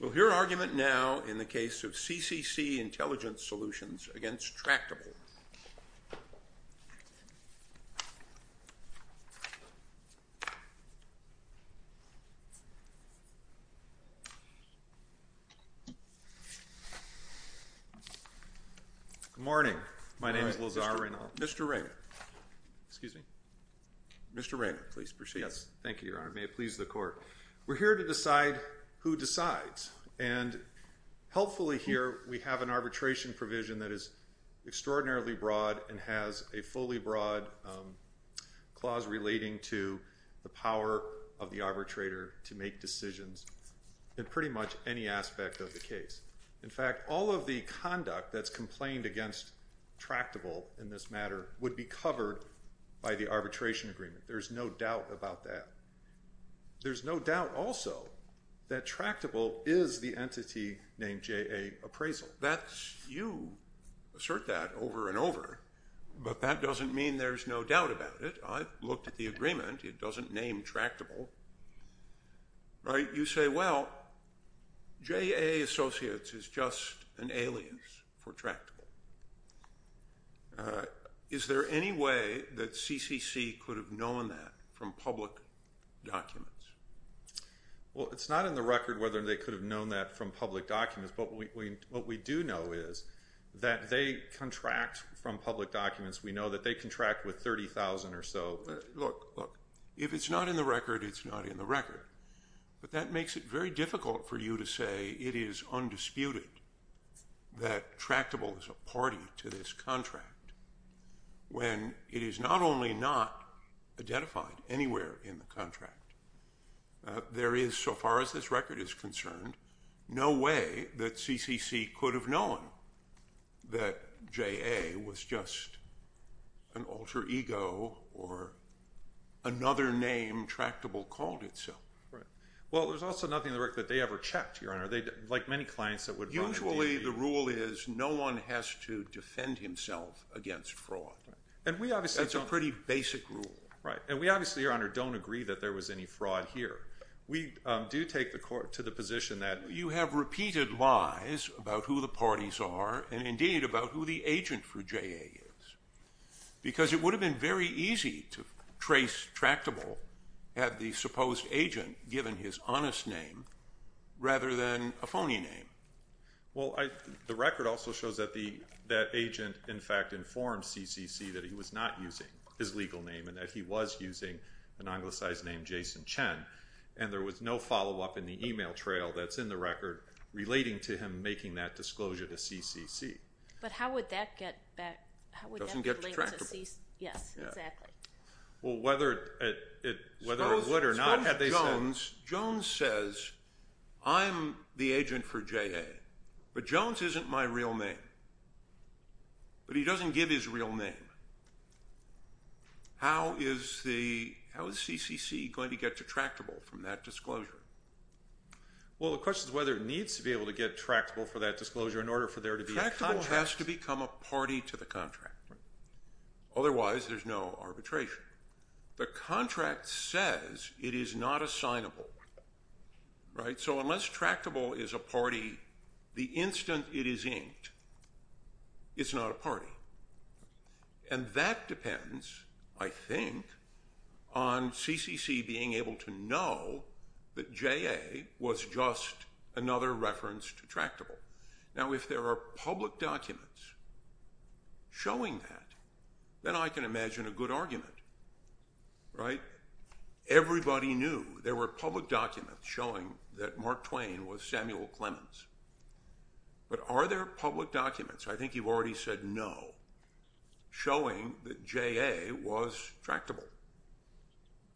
We'll hear an argument now in the case of CCC Intelligent Solutions against Tractable. Good morning. My name is Lazar Reynaud. Mr. Reynaud. Excuse me? Mr. Reynaud, please proceed. Yes. Thank you, Your Honor. May it please the Court. We're here to decide who decides, and helpfully here we have an arbitration provision that is extraordinarily broad and has a fully broad clause relating to the power of the arbitrator to make decisions in pretty much any aspect of the case. In fact, all of the conduct that's complained against Tractable in this matter would be covered by the arbitration agreement. There's no doubt about that. There's no doubt also that Tractable is the entity named J.A. Appraisal. You assert that over and over, but that doesn't mean there's no doubt about it. I've looked at the agreement. It doesn't name Tractable, right? You say, well, J.A. Associates is just an alias for Tractable. Is there any way that CCC could have known that from public documents? Well, it's not in the record whether they could have known that from public documents, but what we do know is that they contract from public documents. We know that they contract with 30,000 or so. If it's not in the record, it's not in the record. But that makes it very difficult for you to say it is undisputed that Tractable is a party to this contract when it is not only not identified anywhere in the contract. There is, so far as this record is concerned, no way that CCC could have known that J.A. was just an alter ego or another name Tractable called itself. Right. Well, there's also nothing in the record that they ever checked, Your Honor, like many clients that would run a DA. Usually the rule is no one has to defend himself against fraud. And we obviously don't. That's a pretty basic rule. Right. And we obviously, Your Honor, don't agree that there was any fraud here. We do take the court to the position that you have repeated lies about who the parties are and, indeed, about who the agent for J.A. is. Because it would have been very easy to trace Tractable at the supposed agent given his honest name rather than a phony name. Well, the record also shows that that agent, in fact, informed CCC that he was not using his legal name and that he was using an anglicized name, Jason Chen. And there was no follow-up in the e-mail trail that's in the record relating to him making that disclosure to CCC. But how would that get back? Doesn't get to Tractable. Yes, exactly. Well, whether it would or not, they said. Suppose Jones says, I'm the agent for J.A., but Jones isn't my real name, but he doesn't give his real name. How is CCC going to get to Tractable from that disclosure? Well, the question is whether it needs to be able to get Tractable for that disclosure in order for there to be a contract. Tractable has to become a party to the contract. Otherwise, there's no arbitration. The contract says it is not assignable, right? So unless Tractable is a party, the instant it is inked, it's not a party. And that depends, I think, on CCC being able to know that J.A. was just another reference to Tractable. Now, if there are public documents showing that, then I can imagine a good argument, right? Everybody knew there were public documents showing that Mark Twain was Samuel Clemens. But are there public documents, I think you've already said no, showing that J.A. was Tractable?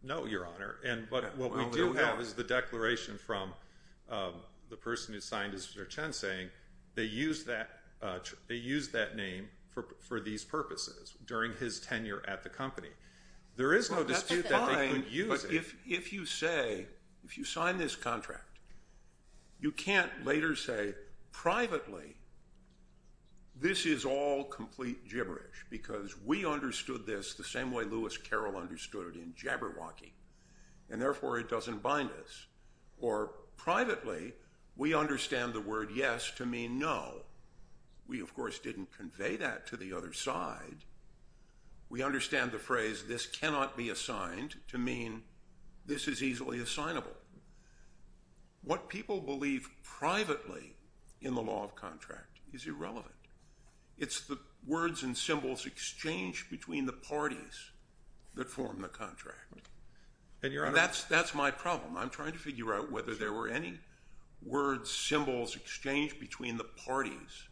No, Your Honor. And what we do have is the declaration from the person who signed it, Mr. Chen, saying they used that name for these purposes during his tenure at the company. There is no dispute that they couldn't use it. If you say, if you sign this contract, you can't later say privately, this is all complete gibberish, because we understood this the same way Lewis Carroll understood it in Jabberwocky, and therefore it doesn't bind us. Or privately, we understand the word yes to mean no. We, of course, didn't convey that to the other side. We understand the phrase this cannot be assigned to mean this is easily assignable. What people believe privately in the law of contract is irrelevant. It's the words and symbols exchanged between the parties that form the contract. And that's my problem. I'm trying to figure out whether there were any words, symbols exchanged between the parties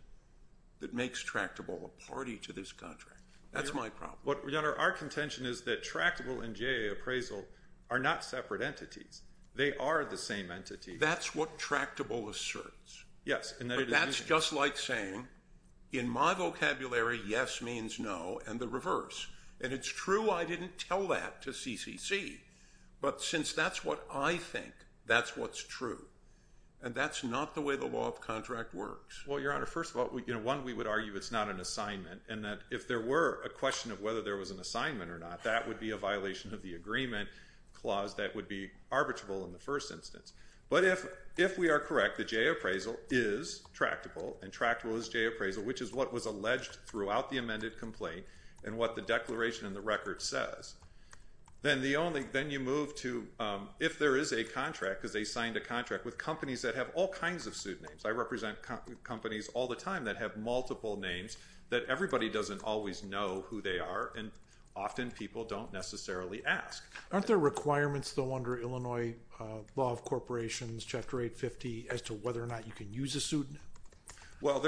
that makes Tractable a party to this contract. That's my problem. Your Honor, our contention is that Tractable and J.A. appraisal are not separate entities. They are the same entity. That's what Tractable asserts. Yes. But that's just like saying, in my vocabulary, yes means no and the reverse. And it's true I didn't tell that to CCC. But since that's what I think, that's what's true. And that's not the way the law of contract works. Well, Your Honor, first of all, one, we would argue it's not an assignment and that if there were a question of whether there was an assignment or not, that would be a violation of the agreement clause that would be arbitrable in the first instance. But if we are correct, the J.A. appraisal is Tractable and Tractable is J.A. appraisal, which is what was alleged throughout the amended complaint and what the declaration in the record says, then you move to if there is a contract, because they signed a contract with companies that have all kinds of suit names. I represent companies all the time that have multiple names that everybody doesn't always know who they are and often people don't necessarily ask. Aren't there requirements, though, under Illinois Law of Corporations, Chapter 850, as to whether or not you can use a suit name? Well,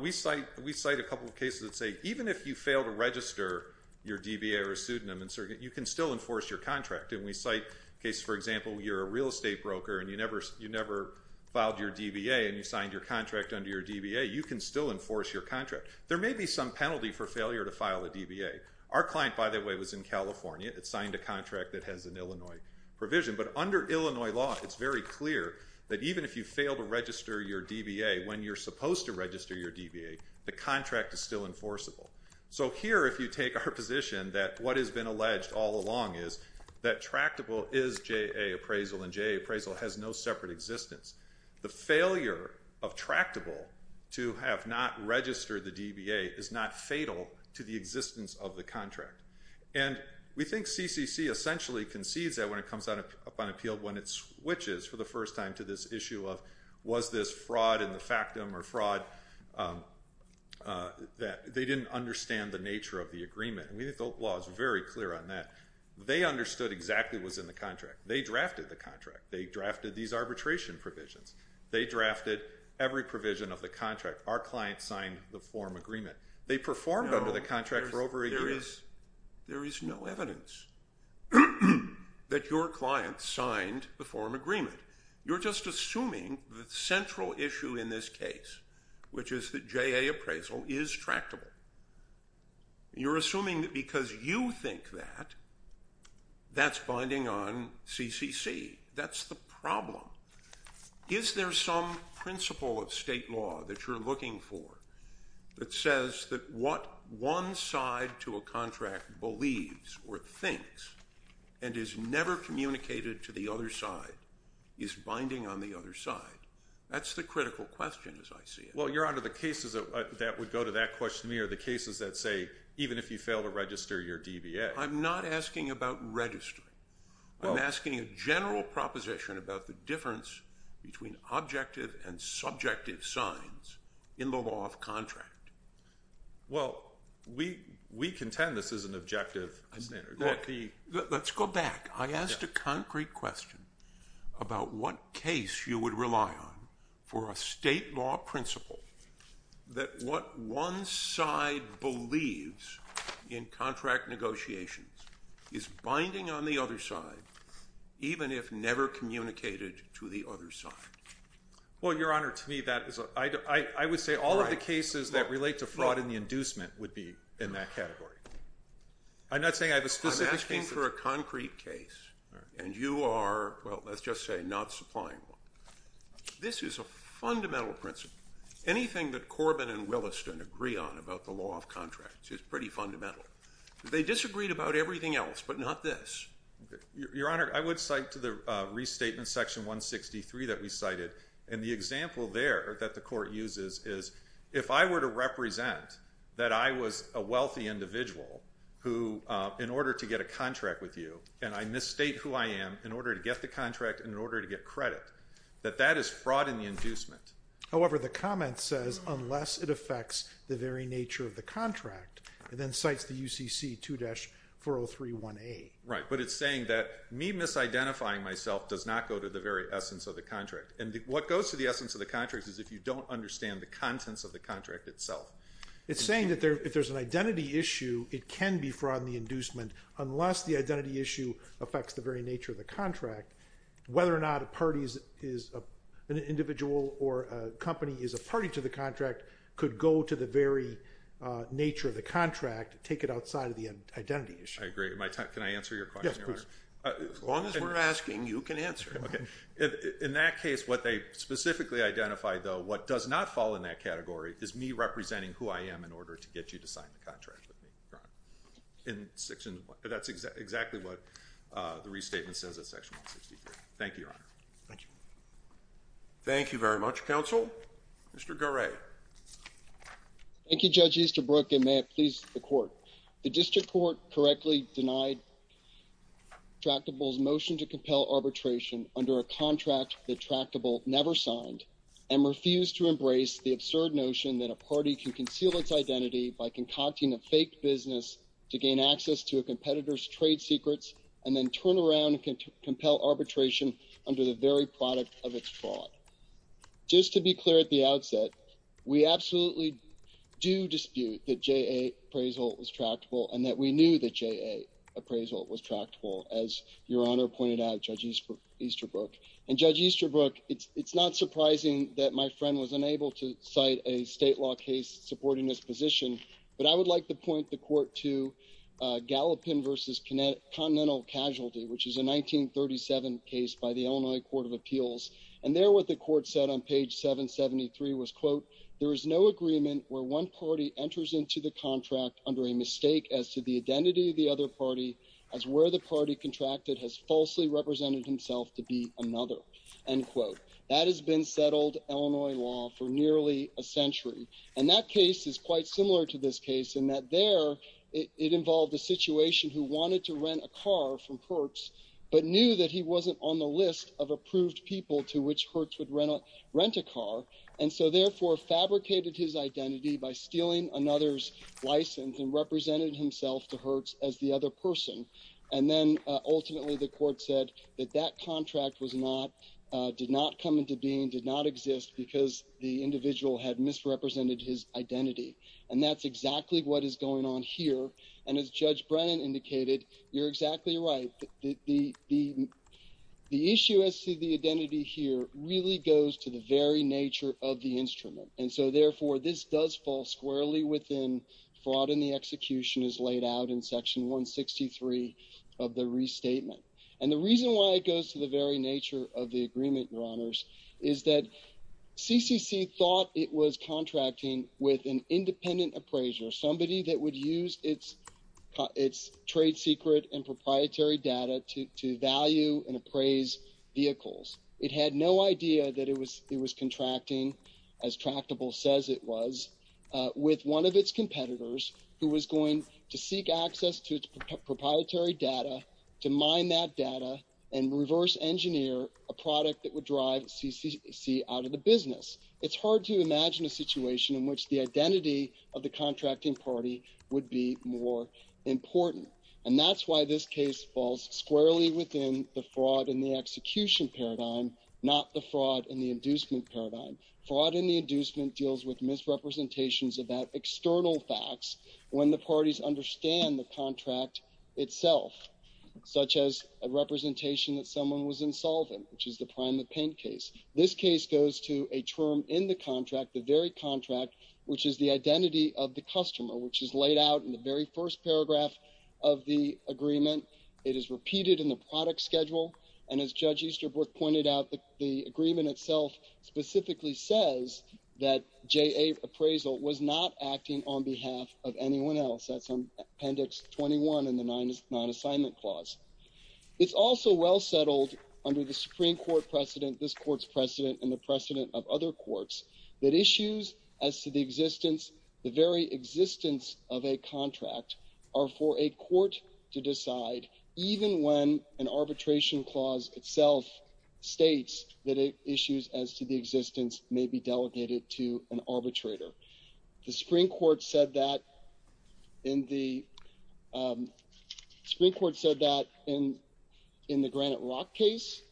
we cite a couple of cases that say even if you fail to register your DBA or a suit name, you can still enforce your contract. And we cite cases, for example, you're a real estate broker and you never filed your DBA and you signed your contract under your DBA, you can still enforce your contract. There may be some penalty for failure to file a DBA. Our client, by the way, was in California. It signed a contract that has an Illinois provision. But under Illinois Law, it's very clear that even if you fail to register your DBA when you're supposed to register your DBA, the contract is still enforceable. So here, if you take our position that what has been alleged all along is that Tractable is J.A. appraisal and J.A. appraisal has no separate existence. The failure of Tractable to have not registered the DBA is not fatal to the existence of the contract. And we think CCC essentially concedes that when it comes up on appeal, when it switches for the first time to this issue of was this fraud in the factum or fraud that they didn't understand the nature of the agreement. And we think the law is very clear on that. They understood exactly what was in the contract. They drafted the contract. They drafted these arbitration provisions. They drafted every provision of the contract. Our client signed the form agreement. They performed under the contract for over a year. There is no evidence that your client signed the form agreement. You're just assuming the central issue in this case, which is that J.A. appraisal is Tractable. You're assuming that because you think that, that's binding on CCC. That's the problem. Is there some principle of state law that you're looking for that says that what one side to a contract believes or thinks and is never communicated to the other side is binding on the other side? That's the critical question, as I see it. Well, Your Honor, the cases that would go to that questionnaire are the cases that say even if you fail to register your DBA. I'm not asking about registering. I'm asking a general proposition about the difference between objective and subjective signs in the law of contract. Well, we contend this is an objective standard. Let's go back. I asked a concrete question about what case you would rely on for a state law principle that what one side believes in contract negotiations is binding on the other side, even if never communicated to the other side. Well, Your Honor, to me, I would say all of the cases that relate to fraud and the inducement would be in that category. I'm not saying I have a specific case. I'm asking for a concrete case, and you are, well, let's just say not supplying one. This is a fundamental principle. Anything that Corbin and Williston agree on about the law of contracts is pretty fundamental. They disagreed about everything else, but not this. Your Honor, I would cite to the restatement section 163 that we cited, and the example there that the court uses is if I were to represent that I was a wealthy individual who, in order to get a contract with you, and I misstate who I am in order to get the contract and in order to get credit, that that is fraud in the inducement. However, the comment says unless it affects the very nature of the contract, and then cites the UCC 2-4031A. Right, but it's saying that me misidentifying myself does not go to the very essence of the contract. And what goes to the essence of the contract is if you don't understand the contents of the contract itself. It's saying that if there's an identity issue, it can be fraud in the inducement unless the identity issue affects the very nature of the contract. Whether or not a party is an individual or a company is a party to the contract could go to the very nature of the contract, take it outside of the identity issue. I agree. Can I answer your question, Your Honor? Yes, please. As long as we're asking, you can answer. Okay. In that case, what they specifically identified, though, what does not fall in that category is me representing who I am in order to get you to sign the contract with me, Your Honor. That's exactly what the restatement says in section 163. Thank you, Your Honor. Thank you. Thank you very much, counsel. Mr. Garay. Thank you, Judge Easterbrook, and may it please the court. The district court correctly denied Tractable's motion to compel arbitration under a contract that Tractable never signed and refused to embrace the absurd notion that a party can conceal its identity by concocting a fake business to gain access to a competitor's trade secrets and then turn around and compel arbitration under the very product of its fraud. Just to be clear at the outset, we absolutely do dispute that J.A. appraisal was Tractable and that we knew that J.A. appraisal was Tractable, as Your Honor pointed out, Judge Easterbrook. And, Judge Easterbrook, it's not surprising that my friend was unable to cite a state law case supporting this position, but I would like to point the court to Gallupin v. Continental Casualty, which is a 1937 case by the Illinois Court of Appeals. And there what the court said on page 773 was, quote, there is no agreement where one party enters into the contract under a mistake as to the identity of the other party as where the party contracted has falsely represented himself to be another, end quote. That has been settled, Illinois law, for nearly a century. And as Judge Brennan indicated, you're exactly right, the issue as to the identity here really goes to the very nature of the instrument. And so, therefore, this does fall squarely within fraud and the execution as laid out in section 163 of the restatement. And the reason why it goes to the very nature of the agreement, Your Honors, is that CCC thought it was contracting with an independent appraiser, somebody that would use its trade secret and proprietary data to value and appraise vehicles. It had no idea that it was contracting, as tractable says it was, with one of its competitors who was going to seek access to its proprietary data to mine that data and reverse engineer a product that would drive CCC out of the business. It's hard to imagine a situation in which the identity of the contracting party would be more important. And that's why this case falls squarely within the fraud and the execution paradigm, not the fraud and the inducement paradigm. Fraud and the inducement deals with misrepresentations of that external facts when the parties understand the contract itself, such as a representation that someone was insolvent, which is the prime of pain case. This case goes to a term in the contract, the very contract, which is the identity of the customer, which is laid out in the very first paragraph of the agreement. It is repeated in the product schedule. And as Judge Easterbrook pointed out, the agreement itself specifically says that J.A. appraisal was not acting on behalf of anyone else. That's on Appendix 21 in the Non-Assignment Clause. It's also well settled under the Supreme Court precedent, this court's precedent and the precedent of other courts, that issues as to the existence, the very existence of a contract are for a court to decide, even when an arbitration clause itself states that issues as to the existence may be delegated to an arbitrator. The Supreme Court said that in the Granite Rock case.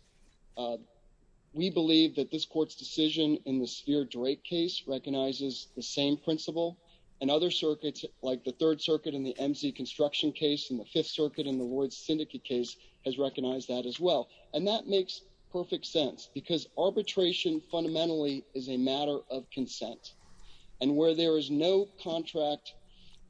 We believe that this court's decision in the Spear-Drake case recognizes the same principle. And other circuits, like the Third Circuit in the M.C. Construction case and the Fifth Circuit in the Ward's Syndicate case, has recognized that as well. And that makes perfect sense because arbitration fundamentally is a matter of consent. And where there is no contract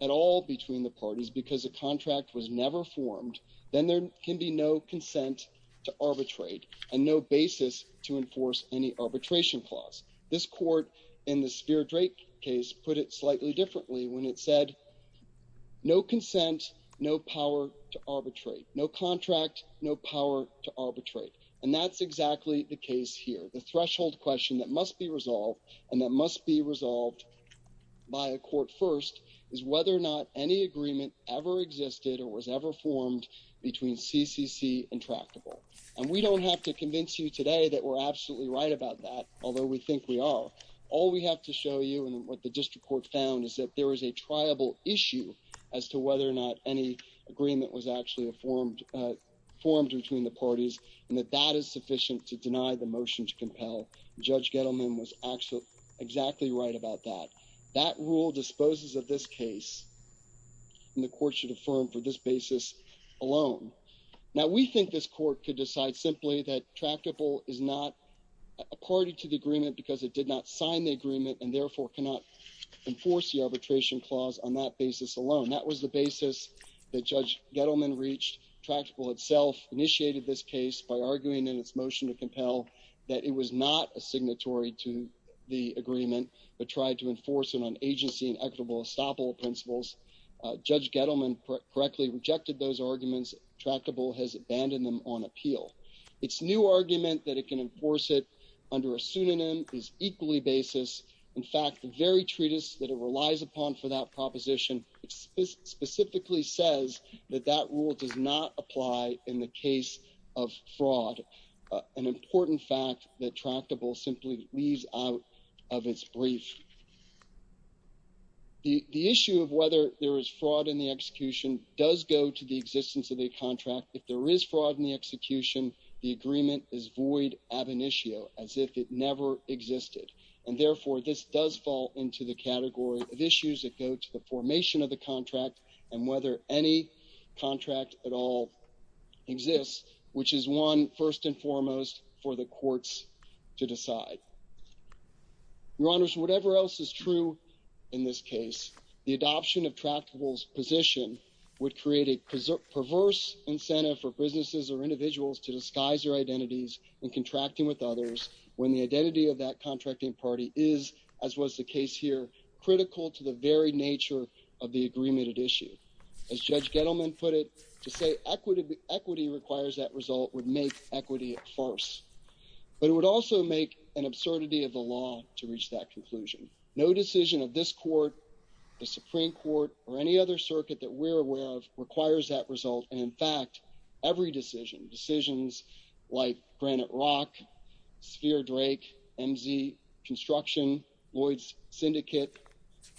at all between the parties because a contract was never formed, then there can be no consent to arbitrate and no basis to enforce any arbitration clause. This court in the Spear-Drake case put it slightly differently when it said, no consent, no power to arbitrate, no contract, no power to arbitrate. And that's exactly the case here. The threshold question that must be resolved and that must be resolved by a court first is whether or not any agreement ever existed or was ever formed between CCC and Tractable. And we don't have to convince you today that we're absolutely right about that, although we think we are. All we have to show you and what the district court found is that there is a triable issue as to whether or not any agreement was actually formed between the parties and that that is sufficient to deny the motion to compel. Judge Gettleman was actually exactly right about that. That rule disposes of this case and the court should affirm for this basis alone. Now, we think this court could decide simply that Tractable is not a party to the agreement because it did not sign the agreement and therefore cannot enforce the arbitration clause on that basis alone. That was the basis that Judge Gettleman reached. Tractable itself initiated this case by arguing in its motion to compel that it was not a signatory to the agreement, but tried to enforce it on agency and equitable estoppel principles. Judge Gettleman correctly rejected those arguments. Tractable has abandoned them on appeal. Its new argument that it can enforce it under a pseudonym is equally basis. In fact, the very treatise that it relies upon for that proposition specifically says that that rule does not apply in the case of fraud. An important fact that Tractable simply leaves out of its brief. The issue of whether there is fraud in the execution does go to the existence of the contract. If there is fraud in the execution, the agreement is void ab initio as if it never existed. And therefore, this does fall into the category of issues that go to the formation of the contract and whether any contract at all exists, which is one first and foremost for the courts to decide. Your Honor, whatever else is true in this case, the adoption of Tractable's position would create a perverse incentive for businesses or individuals to disguise their identities and contracting with others when the identity of that contracting party is, as was the case here, critical to the very nature of the agreement at issue. As Judge Gettleman put it, to say equity requires that result would make equity at first. But it would also make an absurdity of the law to reach that conclusion. No decision of this court, the Supreme Court, or any other circuit that we're aware of requires that result. And in fact, every decision, decisions like Granite Rock, Sphere Drake, MZ Construction, Lloyd's Syndicate,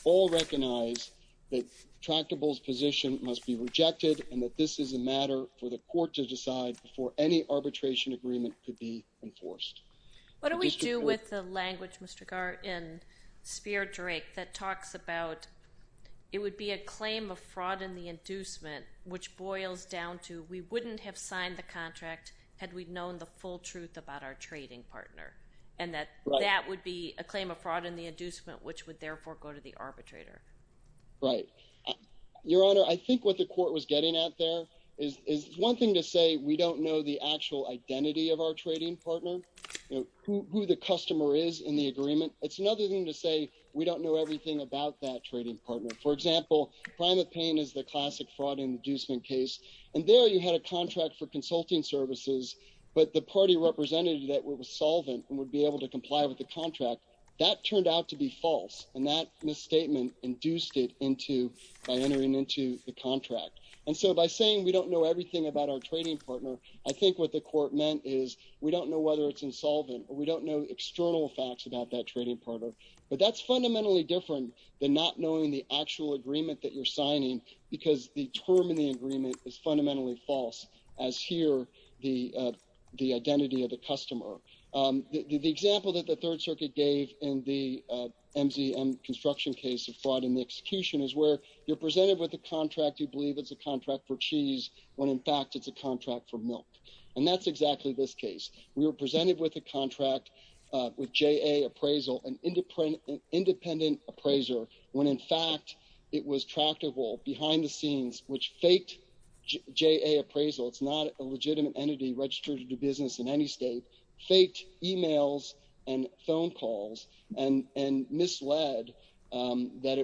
all recognize that Tractable's position must be rejected and that this is a matter for the court to decide before any arbitration agreement could be enforced. What do we do with the language, Mr. Garrett, in Sphere Drake that talks about it would be a claim of fraud in the inducement, which boils down to we wouldn't have signed the contract had we known the full truth about our trading partner, and that that would be a claim of fraud in the inducement, which would therefore go to the arbitrator. Right. Your Honor, I think what the court was getting at there is one thing to say we don't know the actual identity of our trading partner, who the customer is in the agreement. It's another thing to say we don't know everything about that trading partner. For example, Primate Payne is the classic fraud in the inducement case, and there you had a contract for consulting services, but the party represented that was solvent and would be able to comply with the contract. That turned out to be false, and that misstatement induced it into by entering into the contract. And so by saying we don't know everything about our trading partner, I think what the court meant is we don't know whether it's insolvent, or we don't know external facts about that trading partner. But that's fundamentally different than not knowing the actual agreement that you're signing, because the term in the agreement is fundamentally false, as here the identity of the customer. The example that the Third Circuit gave in the MZM construction case of fraud in the execution is where you're presented with a contract, you believe it's a contract for cheese, when in fact it's a contract for milk. And that's exactly this case. We were presented with a contract with JA appraisal, an independent appraiser, when in fact it was tractable behind the scenes, which faked JA appraisal. It's not a legitimate entity registered to do business in any state. Faked emails and phone calls, and misled that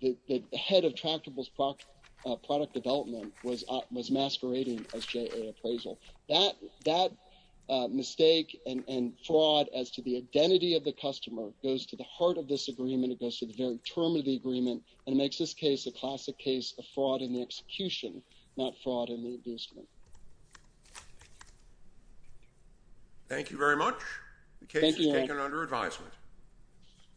the head of tractable's product development was masquerading as JA appraisal. That mistake and fraud as to the identity of the customer goes to the heart of this agreement, it goes to the very term of the agreement, and makes this case a classic case of fraud in the execution, not fraud in the inducement. Thank you very much. The case is taken under advisement.